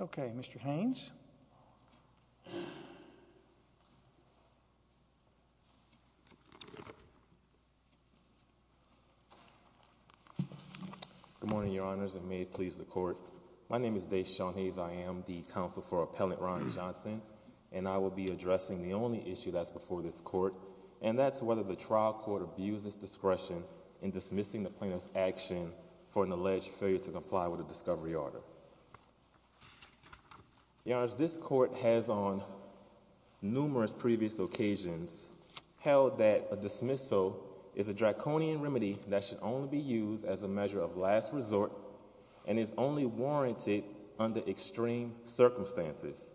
Okay, Mr. Haynes. Good morning, Your Honors. And may it please the court. My name is DeSean Hayes. I am the counsel for appellant, Ron Johnson, and I will be addressing the only issue that's before this court and that's whether the trial court abuses discretion in dismissing the plaintiff's action for an alleged failure to comply with a discovery order. Your Honor, this court has on numerous previous occasions held that a dismissal is a draconian remedy that should only be used as a measure of last resort and is only warranted under extreme circumstances.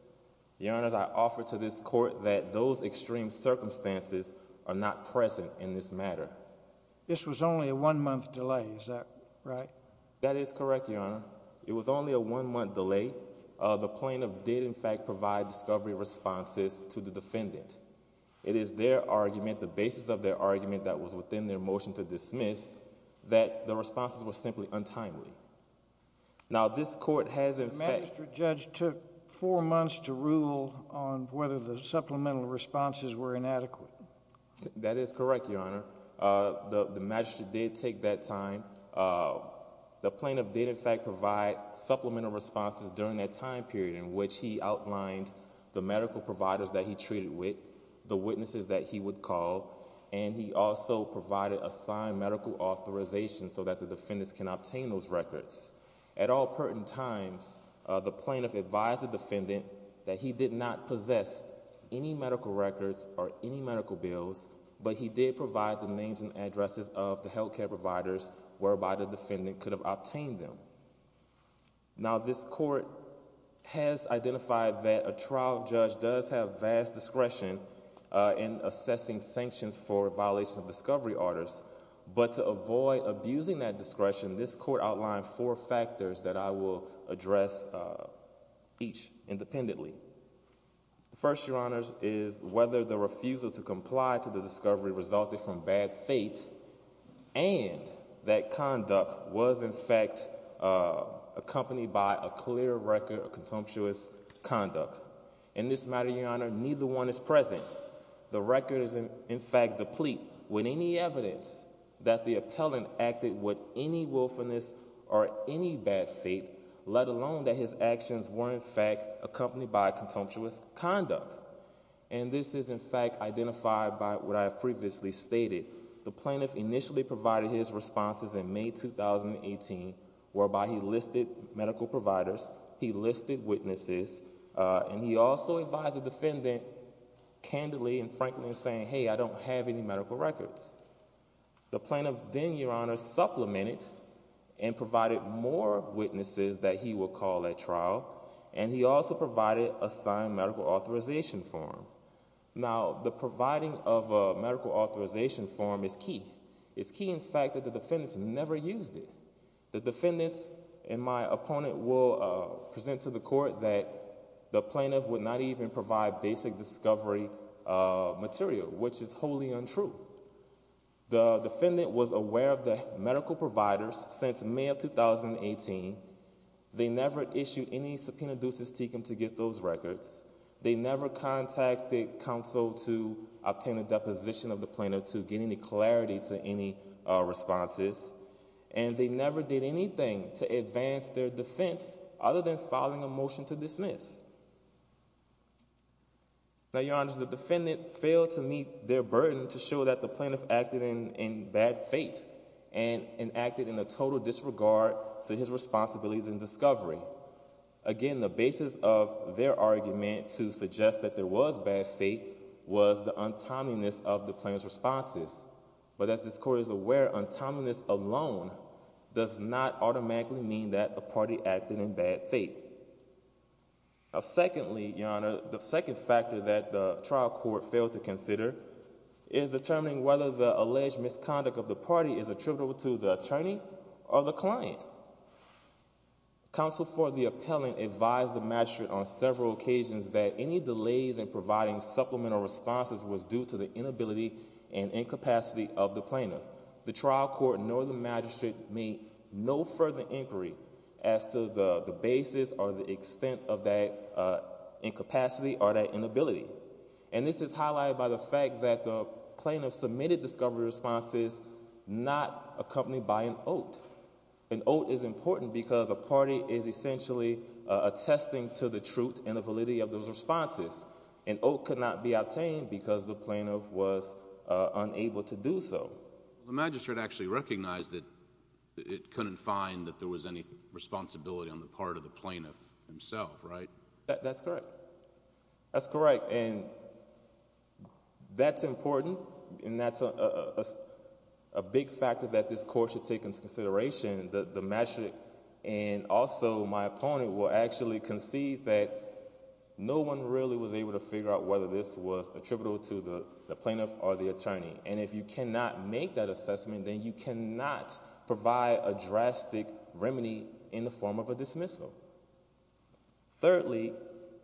Your Honor, I offer to this court that those extreme circumstances are not present in this matter. This was only a one-month delay. Is that right? That is correct, Your Honor. It was only a one-month delay. The plaintiff did, in fact, provide discovery responses to the defendant. It is their argument, the basis of their argument that was within their motion to dismiss, that the responses were simply untimely. Now, this court has, in fact— The magistrate judge took four months to rule on whether the supplemental responses were inadequate. That is correct, Your Honor. The magistrate did take that time. The plaintiff did, in fact, provide supplemental responses during that time period in which he outlined the medical providers that he treated with, the witnesses that he would call, and he also provided a signed medical authorization so that the defendants can obtain those records. At all pertinent times, the plaintiff advised the defendant that he did not possess any medical records or any medical bills, but he did provide the names and addresses of the whereby the defendant could have obtained them. Now, this court has identified that a trial judge does have vast discretion in assessing sanctions for violations of discovery orders, but to avoid abusing that discretion, this court outlined four factors that I will address each independently. First, Your Honors, is whether the refusal to comply to the conduct was, in fact, accompanied by a clear record of contemptuous conduct. In this matter, Your Honor, neither one is present. The record is, in fact, deplete with any evidence that the appellant acted with any willfulness or any bad faith, let alone that his actions were, in fact, accompanied by contemptuous conduct. And this is, in fact, identified by what I have previously stated. The plaintiff initially provided his responses in May 2018, whereby he listed medical providers, he listed witnesses, and he also advised the defendant candidly and frankly saying, hey, I don't have any medical records. The plaintiff then, Your Honor, supplemented and provided more witnesses that he would call at trial, and he also provided a signed medical authorization form. Now, the providing of a medical authorization form is key. It's key, in fact, that the defendants never used it. The defendants and my opponent will present to the court that the plaintiff would not even provide basic discovery material, which is wholly untrue. The defendant was aware of the medical providers since May of 2018. They never issued any subpoena ducis tecum to get those counsel to obtain a deposition of the plaintiff to get any clarity to any responses. And they never did anything to advance their defense other than filing a motion to dismiss. Now, Your Honor, the defendant failed to meet their burden to show that the plaintiff acted in bad fate and acted in a total disregard to his responsibilities and discovery. Again, the basis of their argument to suggest that there was bad fate was the untimeliness of the plaintiff's responses. But as this court is aware, untimeliness alone does not automatically mean that the party acted in bad fate. Now, secondly, Your Honor, the second factor that the trial court failed to consider is determining whether the alleged misconduct of the party is attributable to the attorney or the client. Counsel for the appellant advised the magistrate on several occasions that any delays in providing supplemental responses was due to the inability and incapacity of the plaintiff. The trial court nor the magistrate made no further inquiry as to the basis or the extent of that incapacity or that inability. And this is highlighted by the fact that the plaintiff submitted discovery responses not accompanied by an oath. An oath is important because a party is essentially attesting to the truth and the validity of those responses. An oath could not be obtained because the plaintiff was unable to do so. The magistrate actually recognized that it couldn't find that there was any responsibility on the part of the plaintiff himself, right? That's correct. That's correct. And that's important and that's a big factor that this court should take into consideration that the magistrate and also my opponent will actually concede that no one really was able to figure out whether this was attributable to the plaintiff or the attorney. And if you cannot make that assessment, then you cannot provide a drastic remedy in the form of a dismissal. Thirdly,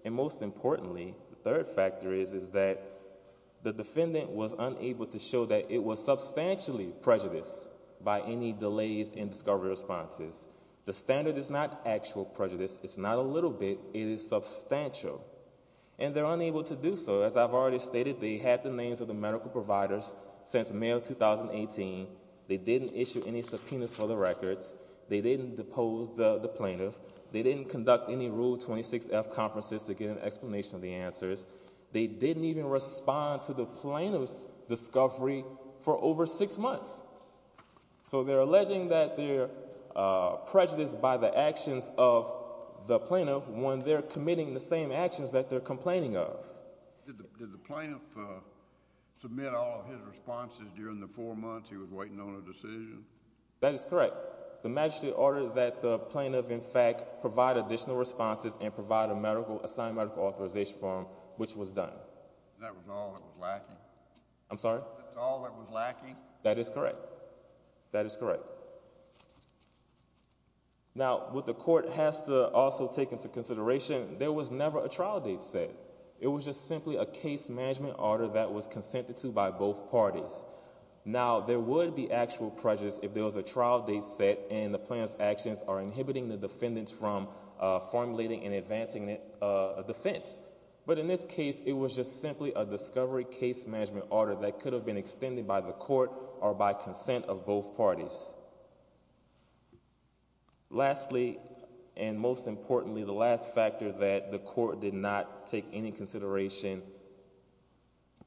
and most importantly, the third factor is that the defendant was unable to show that it was substantially prejudiced by any delays in discovery responses. The standard is not actual prejudice. It's not a little bit. It is substantial and they're unable to do so. As I've already stated, they had the names of the medical providers since May of 2018. They didn't issue any subpoenas for the records. They didn't depose the plaintiff. They didn't conduct any Rule 26F conferences to get an explanation of the answers. They didn't even respond to the plaintiff's discovery for over six months. So they're alleging that they're prejudiced by the actions of the plaintiff when they're committing the same actions that they're complaining of. Did the plaintiff submit all of his responses during the four months he was waiting on a decision? That is correct. The magistrate ordered that the plaintiff in fact provide additional responses and provide a medical, a signed medical authorization form, which was done. That was all that was lacking. I'm sorry? That's all that was lacking? That is correct. That is correct. Now, what the court has to also take into consideration, there was never a trial date set. It was just simply a case management order that was consented to by both parties. Now, there would be actual prejudice if there was a trial date set and the plaintiff's actions are inhibiting the defendants from formulating and advancing a defense. But in this case, it was just simply a discovery case management order that could have been extended by the court or by consent of both parties. Lastly, and most importantly, the last factor that the court did not take any consideration.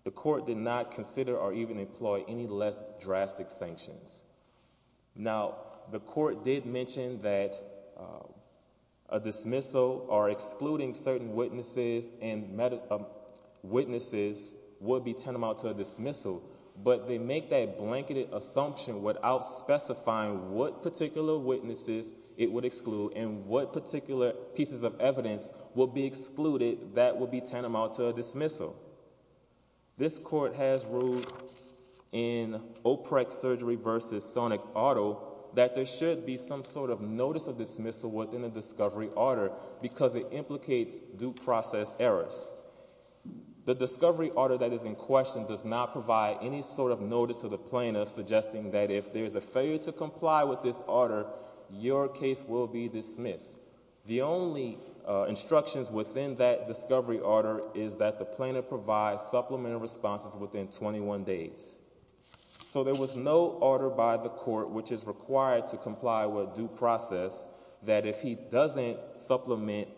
The court did not consider or even employ any less drastic sanctions. Now, the court did mention that a dismissal or excluding certain witnesses and witnesses would be tantamount to a dismissal. But they make that blanketed assumption without specifying what particular witnesses it would exclude and what particular pieces of evidence will be excluded that will be tantamount to a dismissal. This court has ruled in OPREC surgery versus Sonic Auto that there should be some sort of notice of dismissal within the due process errors. The discovery order that is in question does not provide any sort of notice to the plaintiff suggesting that if there's a failure to comply with this order, your case will be dismissed. The only instructions within that discovery order is that the plaintiff provides supplementary responses within 21 days. Due process that if he doesn't supplement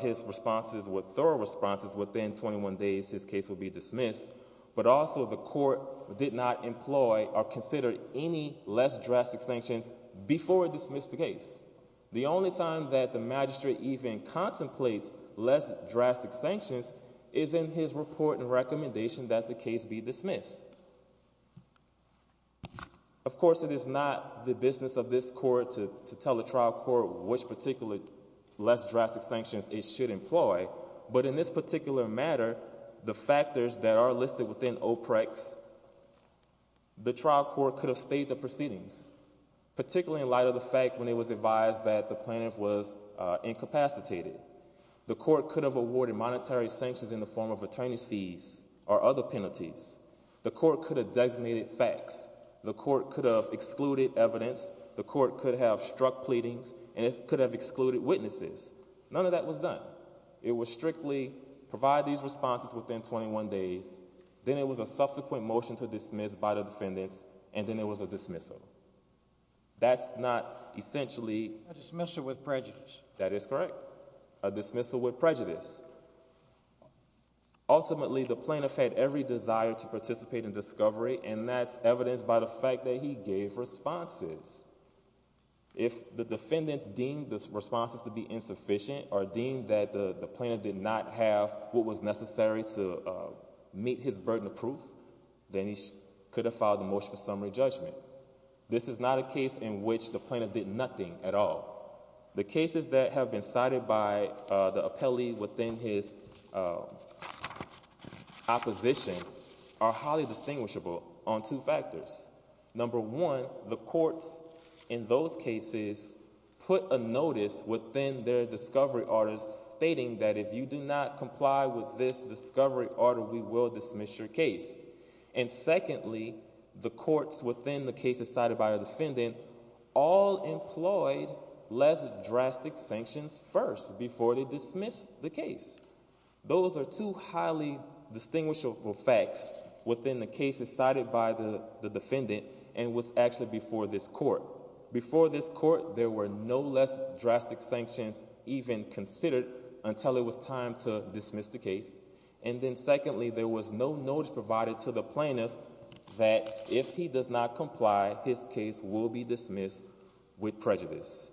his responses with thorough responses within 21 days, his case will be dismissed, but also the court did not employ or consider any less drastic sanctions before it dismissed the case. The only time that the magistrate even contemplates less drastic sanctions is in his report and recommendation that the case be dismissed. Of course, it is not the business of this court to tell the trial court which particularly less drastic sanctions it should employ, but in this particular matter, the factors that are listed within OPREC's, the trial court could have stayed the proceedings, particularly in light of the fact when it was advised that the plaintiff was incapacitated. The court could have awarded monetary sanctions in the form of attorney's fees or other penalties. The court could have designated facts. The court could have excluded evidence. The court could have struck pleadings and it could have excluded witnesses. None of that was done. It was strictly provide these responses within 21 days. Then it was a subsequent motion to dismiss by the defendants and then it was a dismissal. That's not essentially a dismissal with prejudice. That is correct. A dismissal with prejudice. Ultimately, the plaintiff had every desire to participate in discovery and that's evidenced by the fact that he gave responses. If the defendants deemed this responses to be insufficient or deemed that the plaintiff did not have what was necessary to meet his burden of proof, then he could have filed the motion for summary judgment. This is not a case in which the plaintiff did nothing at all. The cases that have been cited by the appellee within the his opposition are highly distinguishable on two factors. Number one, the courts in those cases put a notice within their discovery orders stating that if you do not comply with this discovery order, we will dismiss your case. And secondly, the courts within the cases cited by the defendant all employed less drastic sanctions first before they dismiss the case. Those are two highly distinguishable facts within the cases cited by the defendant and was actually before this court. Before this court, there were no less drastic sanctions even considered until it was time to dismiss the case. And then secondly, there was no notice provided to the plaintiff that if he does not comply, his case will be dismissed with prejudice.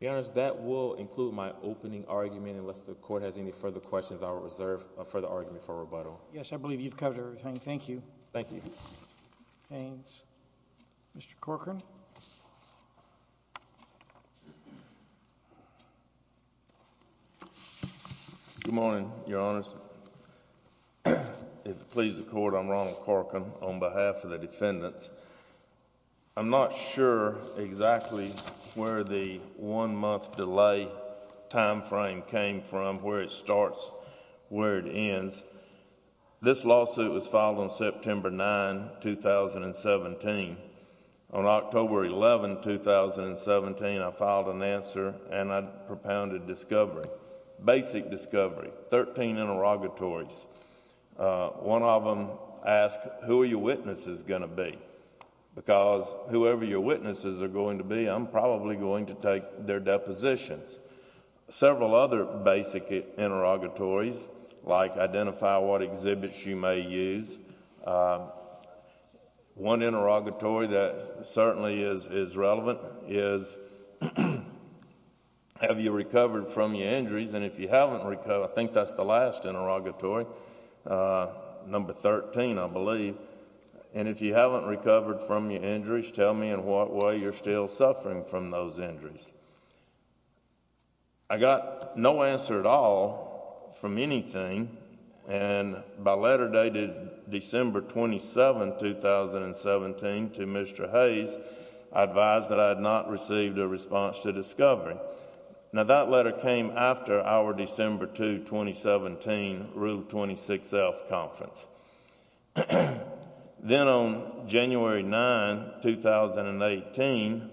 Yes, that will include my opening argument unless the court has any further questions. I will reserve a further argument for rebuttal. Yes, I believe you've covered everything. Thank you. Thank you. James. Mr. Corcoran. Good morning, Your Honors. If it pleases the court, I'm Ronald Corcoran on behalf of the defendants. I'm not sure exactly where the one month delay time frame came from, where it starts, where it ends. This lawsuit was filed on September 9, 2017. On October 11, 2017, I filed an answer and I propounded discovery, basic discovery. Thirteen interrogatories. One of them asked, who are your witnesses going to be? Because whoever your witnesses are going to be, I'm probably going to take their depositions. Several other basic interrogatories like identify what exhibits you may use. One interrogatory that certainly is relevant is, have you recovered from your injuries? And if you haven't recovered, I think that's the last interrogatory, number 13, I believe. And if you haven't recovered from your injuries, tell me in what way you're still suffering from those injuries. I got no answer at all from anything and by letter dated December 27, 2017 to Mr. Hayes, I advised that I had not received a response to discovery. Now that letter came after our December 2, 2017, Rule 26F conference. Then on January 9, 2018,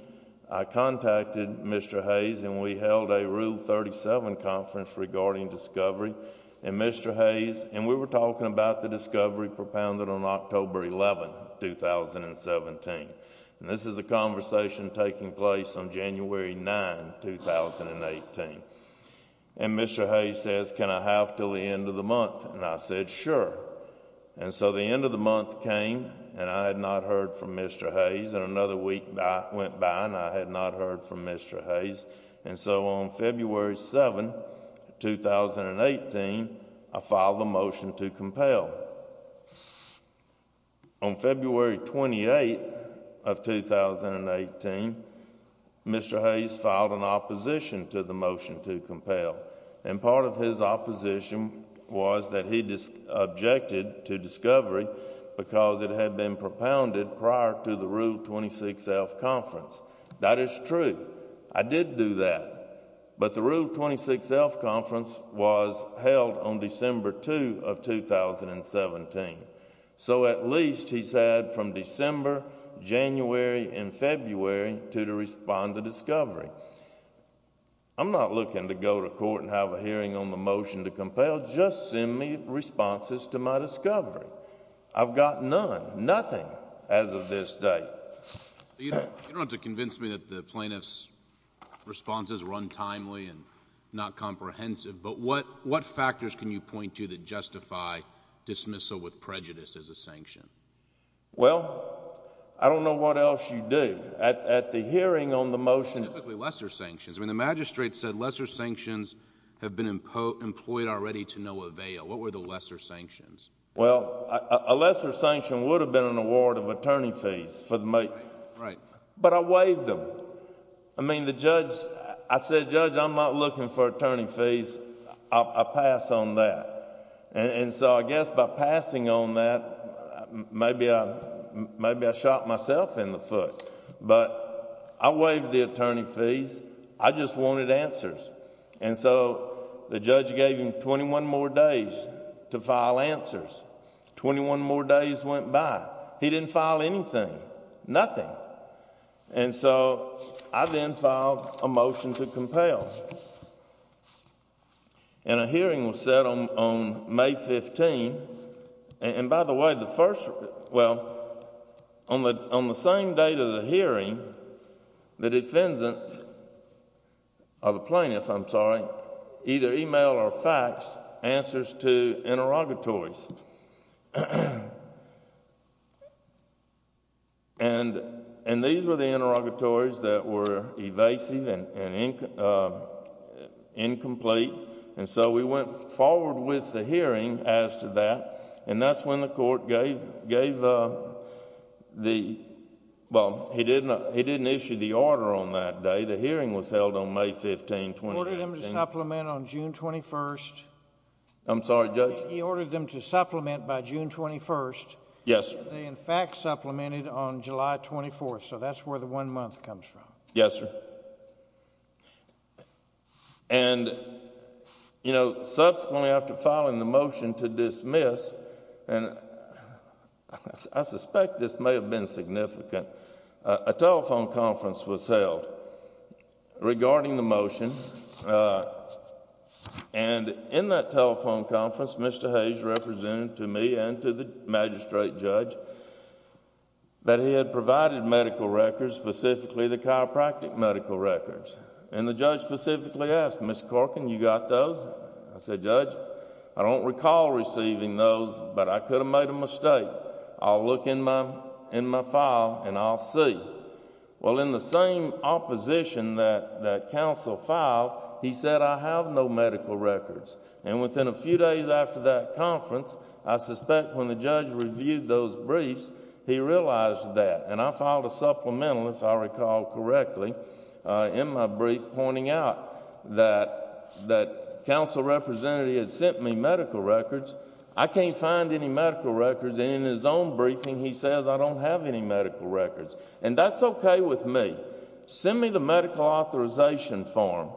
I contacted Mr. Hayes and we held a Rule 37 conference regarding discovery and Mr. Hayes and we were talking about the discovery propounded on October 11, 2017. This is a conversation taking place on January 9, 2018. And Mr. Hayes says, can I have till the end of the month? And I said, sure. And so the end of the month came and I had not heard from Mr. Hayes and another week went by and I had not heard from Mr. Hayes. And so on February 7, 2018, I filed a motion to compel. On February 28 of 2018, Mr. Hayes filed an opposition to the motion to compel and part of his opposition was that he just objected to discovery because it had been propounded prior to the Rule 26F conference. That is true. I did do that, but the Rule 26F conference was held on January 9, 2017. So at least he said from December, January, and February to respond to discovery. I'm not looking to go to court and have a hearing on the motion to compel, just send me responses to my discovery. I've got none, nothing as of this day. You don't have to convince me that the plaintiff's responses run timely and not comprehensive, but what factors can you dismissal with prejudice as a sanction? Well, I don't know what else you do. At the hearing on the motion, typically lesser sanctions. I mean, the magistrate said lesser sanctions have been employed already to no avail. What were the lesser sanctions? Well, a lesser sanction would have been an award of attorney fees for the mate. Right, but I waived them. I mean the judge, I said, judge, I'm not looking for attorney fees. I pass on that. And so I guess by passing on that, maybe I shot myself in the foot, but I waived the attorney fees. I just wanted answers. And so the judge gave him 21 more days to file answers. 21 more days went by. He didn't file anything, nothing. And so I then filed a motion to compel. And a hearing was set on May 15. And by the way, the first, well, on the same date of the hearing, the defendants, or the plaintiff, I'm sorry, either email or faxed answers to interrogatories. And these were the interrogatories that were evasive and incomplete. And so we went forward with the hearing as to that. And that's when the court gave the, well, he didn't issue the order on that day. The hearing was held on May 15, 2019. He ordered them to supplement on June 21. I'm sorry, judge? He ordered them to supplement by June 21. Yes, sir. And they in fact supplemented on July 24. So that's where the one month comes from. Yes, sir. And, you know, subsequently after filing the motion to dismiss, and I suspect this may have been significant, a telephone conference was held regarding the motion. And in that telephone conference, Mr. Hayes represented to me and to the magistrate judge that he had provided medical records, specifically the chiropractic medical records. And the judge specifically asked, Mr. Corkin, you got those? I said, judge, I don't recall receiving those, but I could have made a mistake. I'll look in my file and I'll see. Well, in the same opposition that counsel filed, he said, I have no medical records. And within a few days after that conference, I suspect when the judge reviewed those briefs, he realized that. And I filed a supplemental, if I recall correctly, in my brief, pointing out that that counsel represented he had sent me medical records. I can't find any medical records. And in his own briefing, he says, I don't have any medical records and that's okay with me. Send me the medical authorization form.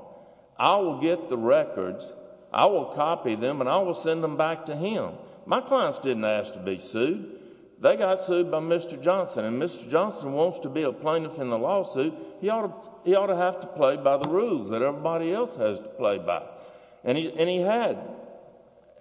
I will get the records. I will copy them and I will send them back to him. My clients didn't ask to be sued. They got sued by Mr. Johnson and Mr. Johnson wants to be a plaintiff in the lawsuit. He ought to, he ought to have to play by the rules that everybody else has to play by. And he, and he had,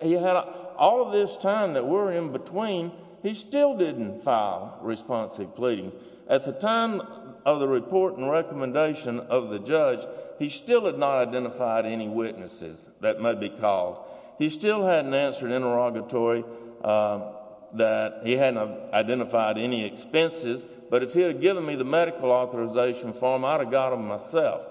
he had all of this time that we're in between, he still didn't file responsive pleading. At the time of the report and recommendation of the judge, he still had not identified any witnesses that may be called. He still hadn't answered interrogatory that he hadn't identified any expenses, but if he had given me the medical authorization form, I'd have got them myself.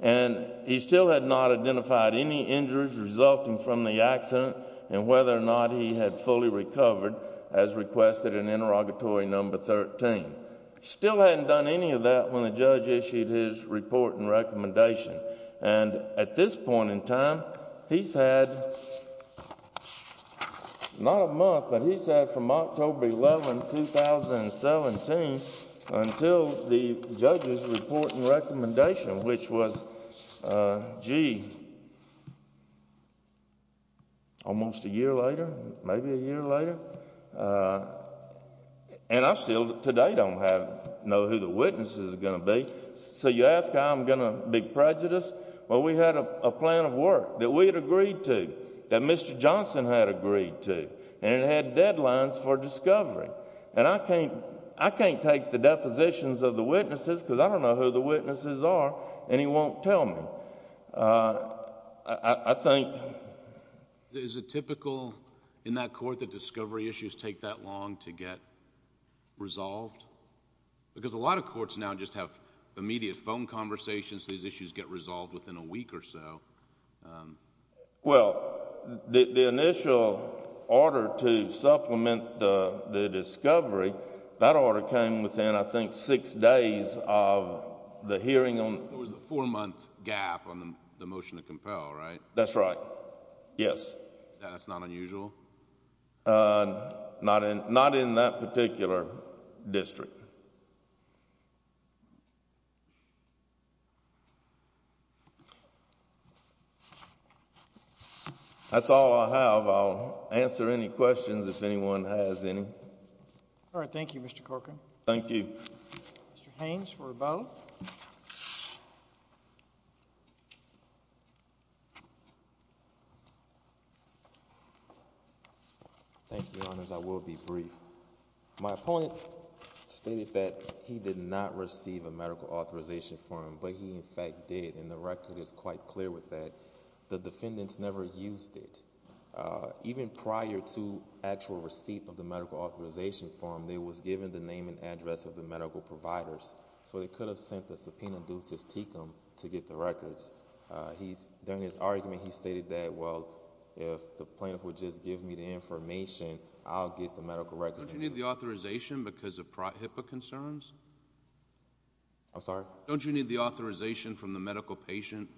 And he still had not identified any injuries resulting from the accident and whether or not he had fully recovered as requested in interrogatory number 13. Still hadn't done any of that when the judge issued his report and recommendation. And at this point in time, he's had, not a month, but he's had from October 11, 2017 until the judge's report and recommendation, which was, gee, almost a year later, maybe a year later. And I still today don't have, know who the witnesses are going to be. So you ask how I'm going to be prejudiced? Well, we had a plan of work that we had agreed to, that Mr. Johnson had agreed to, and it had deadlines for discovery. And I can't, I can't take the depositions of the witnesses because I don't know who the witnesses are and he won't tell me. I think... Is it typical in that court that discovery issues take that long to get resolved? Because a lot of courts now just have immediate phone conversations. These issues get resolved within a week or so. Well, the initial order to supplement the discovery, that order came within, I think, six days of the hearing on... There was a four-month gap on the motion to compel, right? That's right. Yes. That's not unusual? Not in that particular district. That's all I have. I'll answer any questions if anyone has any. All right. Thank you, Mr. Corcoran. Thank you. Mr. Haynes for a vote. Thank you, Your Honors. I will be brief. My opponent stated that he did not receive a medical authorization form, but he, in fact, did. And the record is quite clear with that. The defendants never used it. Even prior to actual receipt of the medical authorization form, they was given the name and address of the medical providers so they could have sent the subpoena ducis tecum to get the records. He's, during his argument, he stated that, well, if the plaintiff would just give me the information, I'll get the medical records. Don't you need the authorization because of HIPAA concerns? I'm sorry? Don't you need the authorization from the medical patient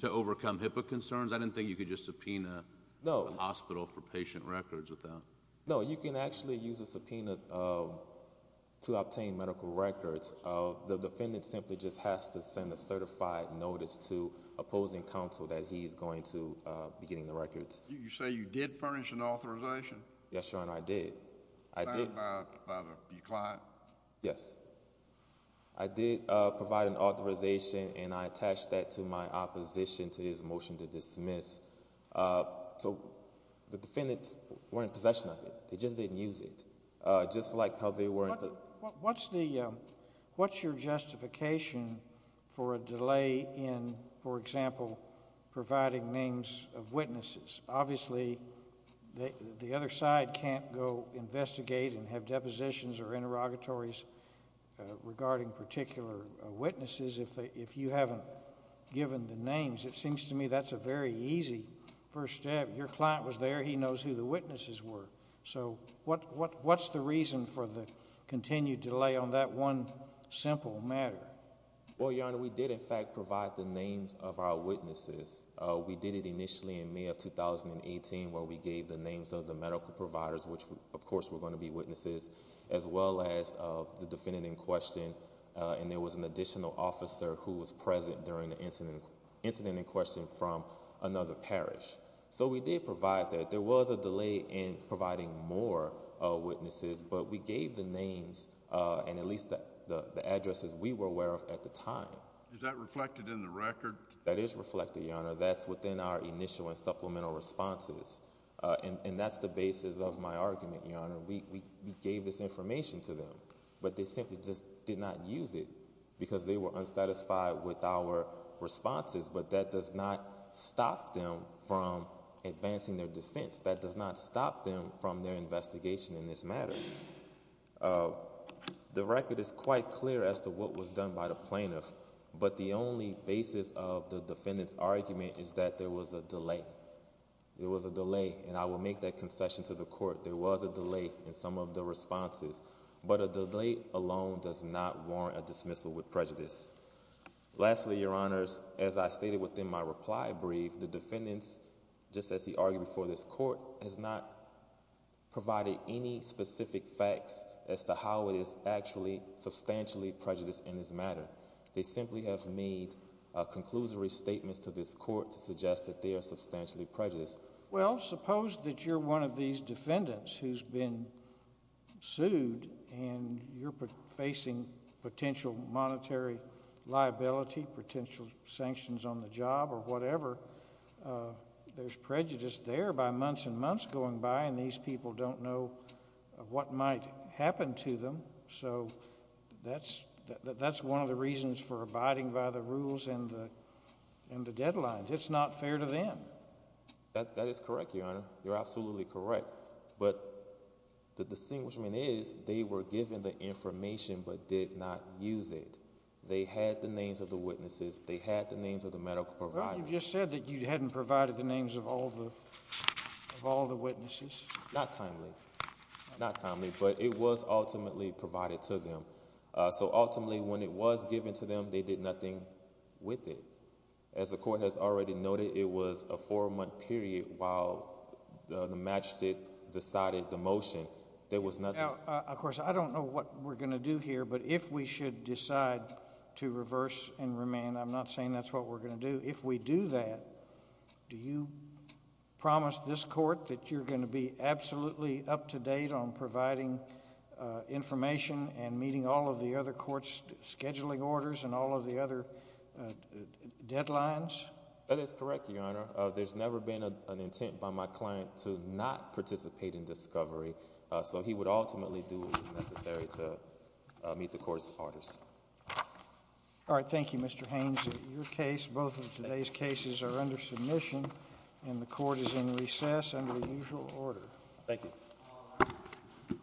to overcome HIPAA concerns? I didn't think you could just subpoena the hospital for patient records with that. No, you can actually use a subpoena to obtain medical records. The defendant simply just has to send a certified notice to opposing counsel that he's going to be getting the records. You say you did furnish an authorization? Yes, Your Honor, I did. I did. Signed by your client? Yes. I did provide an authorization and I attached that to my opposition to his motion to dismiss. So, the defendants weren't in possession of it. They just didn't use it. Just like how they weren't... What's the, what's your justification for a delay in, for example, providing names of witnesses? Obviously, the other side can't go investigate and have depositions or interrogatories regarding particular witnesses if they, if you haven't given the names. It seems to me that's a very easy first step. Your client was there. He knows who the witnesses were. So, what's the reason for the continued delay on that one simple matter? Well, Your Honor, we did in fact provide the names of our witnesses. We did it initially in May of 2018 where we gave the names of the medical providers, which of course were going to be witnesses, as well as the defendant in question. And there was an additional officer who was present during the incident, incident in question from another parish. So, we did provide that. There was a delay in providing more witnesses, but we gave the names of the medical providers that we were aware of at the time. Is that reflected in the record? That is reflected, Your Honor. That's within our initial and supplemental responses. And that's the basis of my argument, Your Honor. We gave this information to them, but they simply just did not use it because they were unsatisfied with our responses. But that does not stop them from advancing their defense. That does not stop them from their investigation in this matter. The record is quite clear as to what was done by the plaintiff, but the only basis of the defendant's argument is that there was a delay. There was a delay and I will make that concession to the court. There was a delay in some of the responses, but a delay alone does not warrant a dismissal with prejudice. Lastly, Your Honors, as I stated within my reply brief, the defendant's argument, just as he argued before this court, has not provided any specific facts as to how it is actually substantially prejudiced in this matter. They simply have made conclusory statements to this court to suggest that they are substantially prejudiced. Well, suppose that you're one of these defendants who's been sued and you're facing potential monetary liability, potential sanctions on the job or whatever. There's prejudice there by months and months going by and these people don't know what might happen to them. So that's one of the reasons for abiding by the rules and the deadlines. It's not fair to them. That is correct, Your Honor. You're absolutely correct. But the distinguishment is they were given the information, but did not use it. They had the names of the witnesses. They had the names of the medical providers. Well, you just said that you hadn't provided the names of all the witnesses. Not timely. Not timely, but it was ultimately provided to them. So ultimately, when it was given to them, they did nothing with it. As the court has already noted, it was a four-month period while the magistrate decided the motion. There was nothing. Of course, I don't know what we're going to do here, but if we should decide to reverse and remand, I'm not saying that's what we're going to do. If we do that, do you promise this court that you're going to be absolutely up to date on providing information and meeting all of the other court's scheduling orders and all of the other deadlines? That is correct, Your Honor. There's never been an intent by my client to not participate in discovery. So he would ultimately do what was necessary to meet the court's orders. All right. Thank you, Mr. Haynes. In your case, both of today's cases are under submission and the court is in recess under the usual order. Thank you.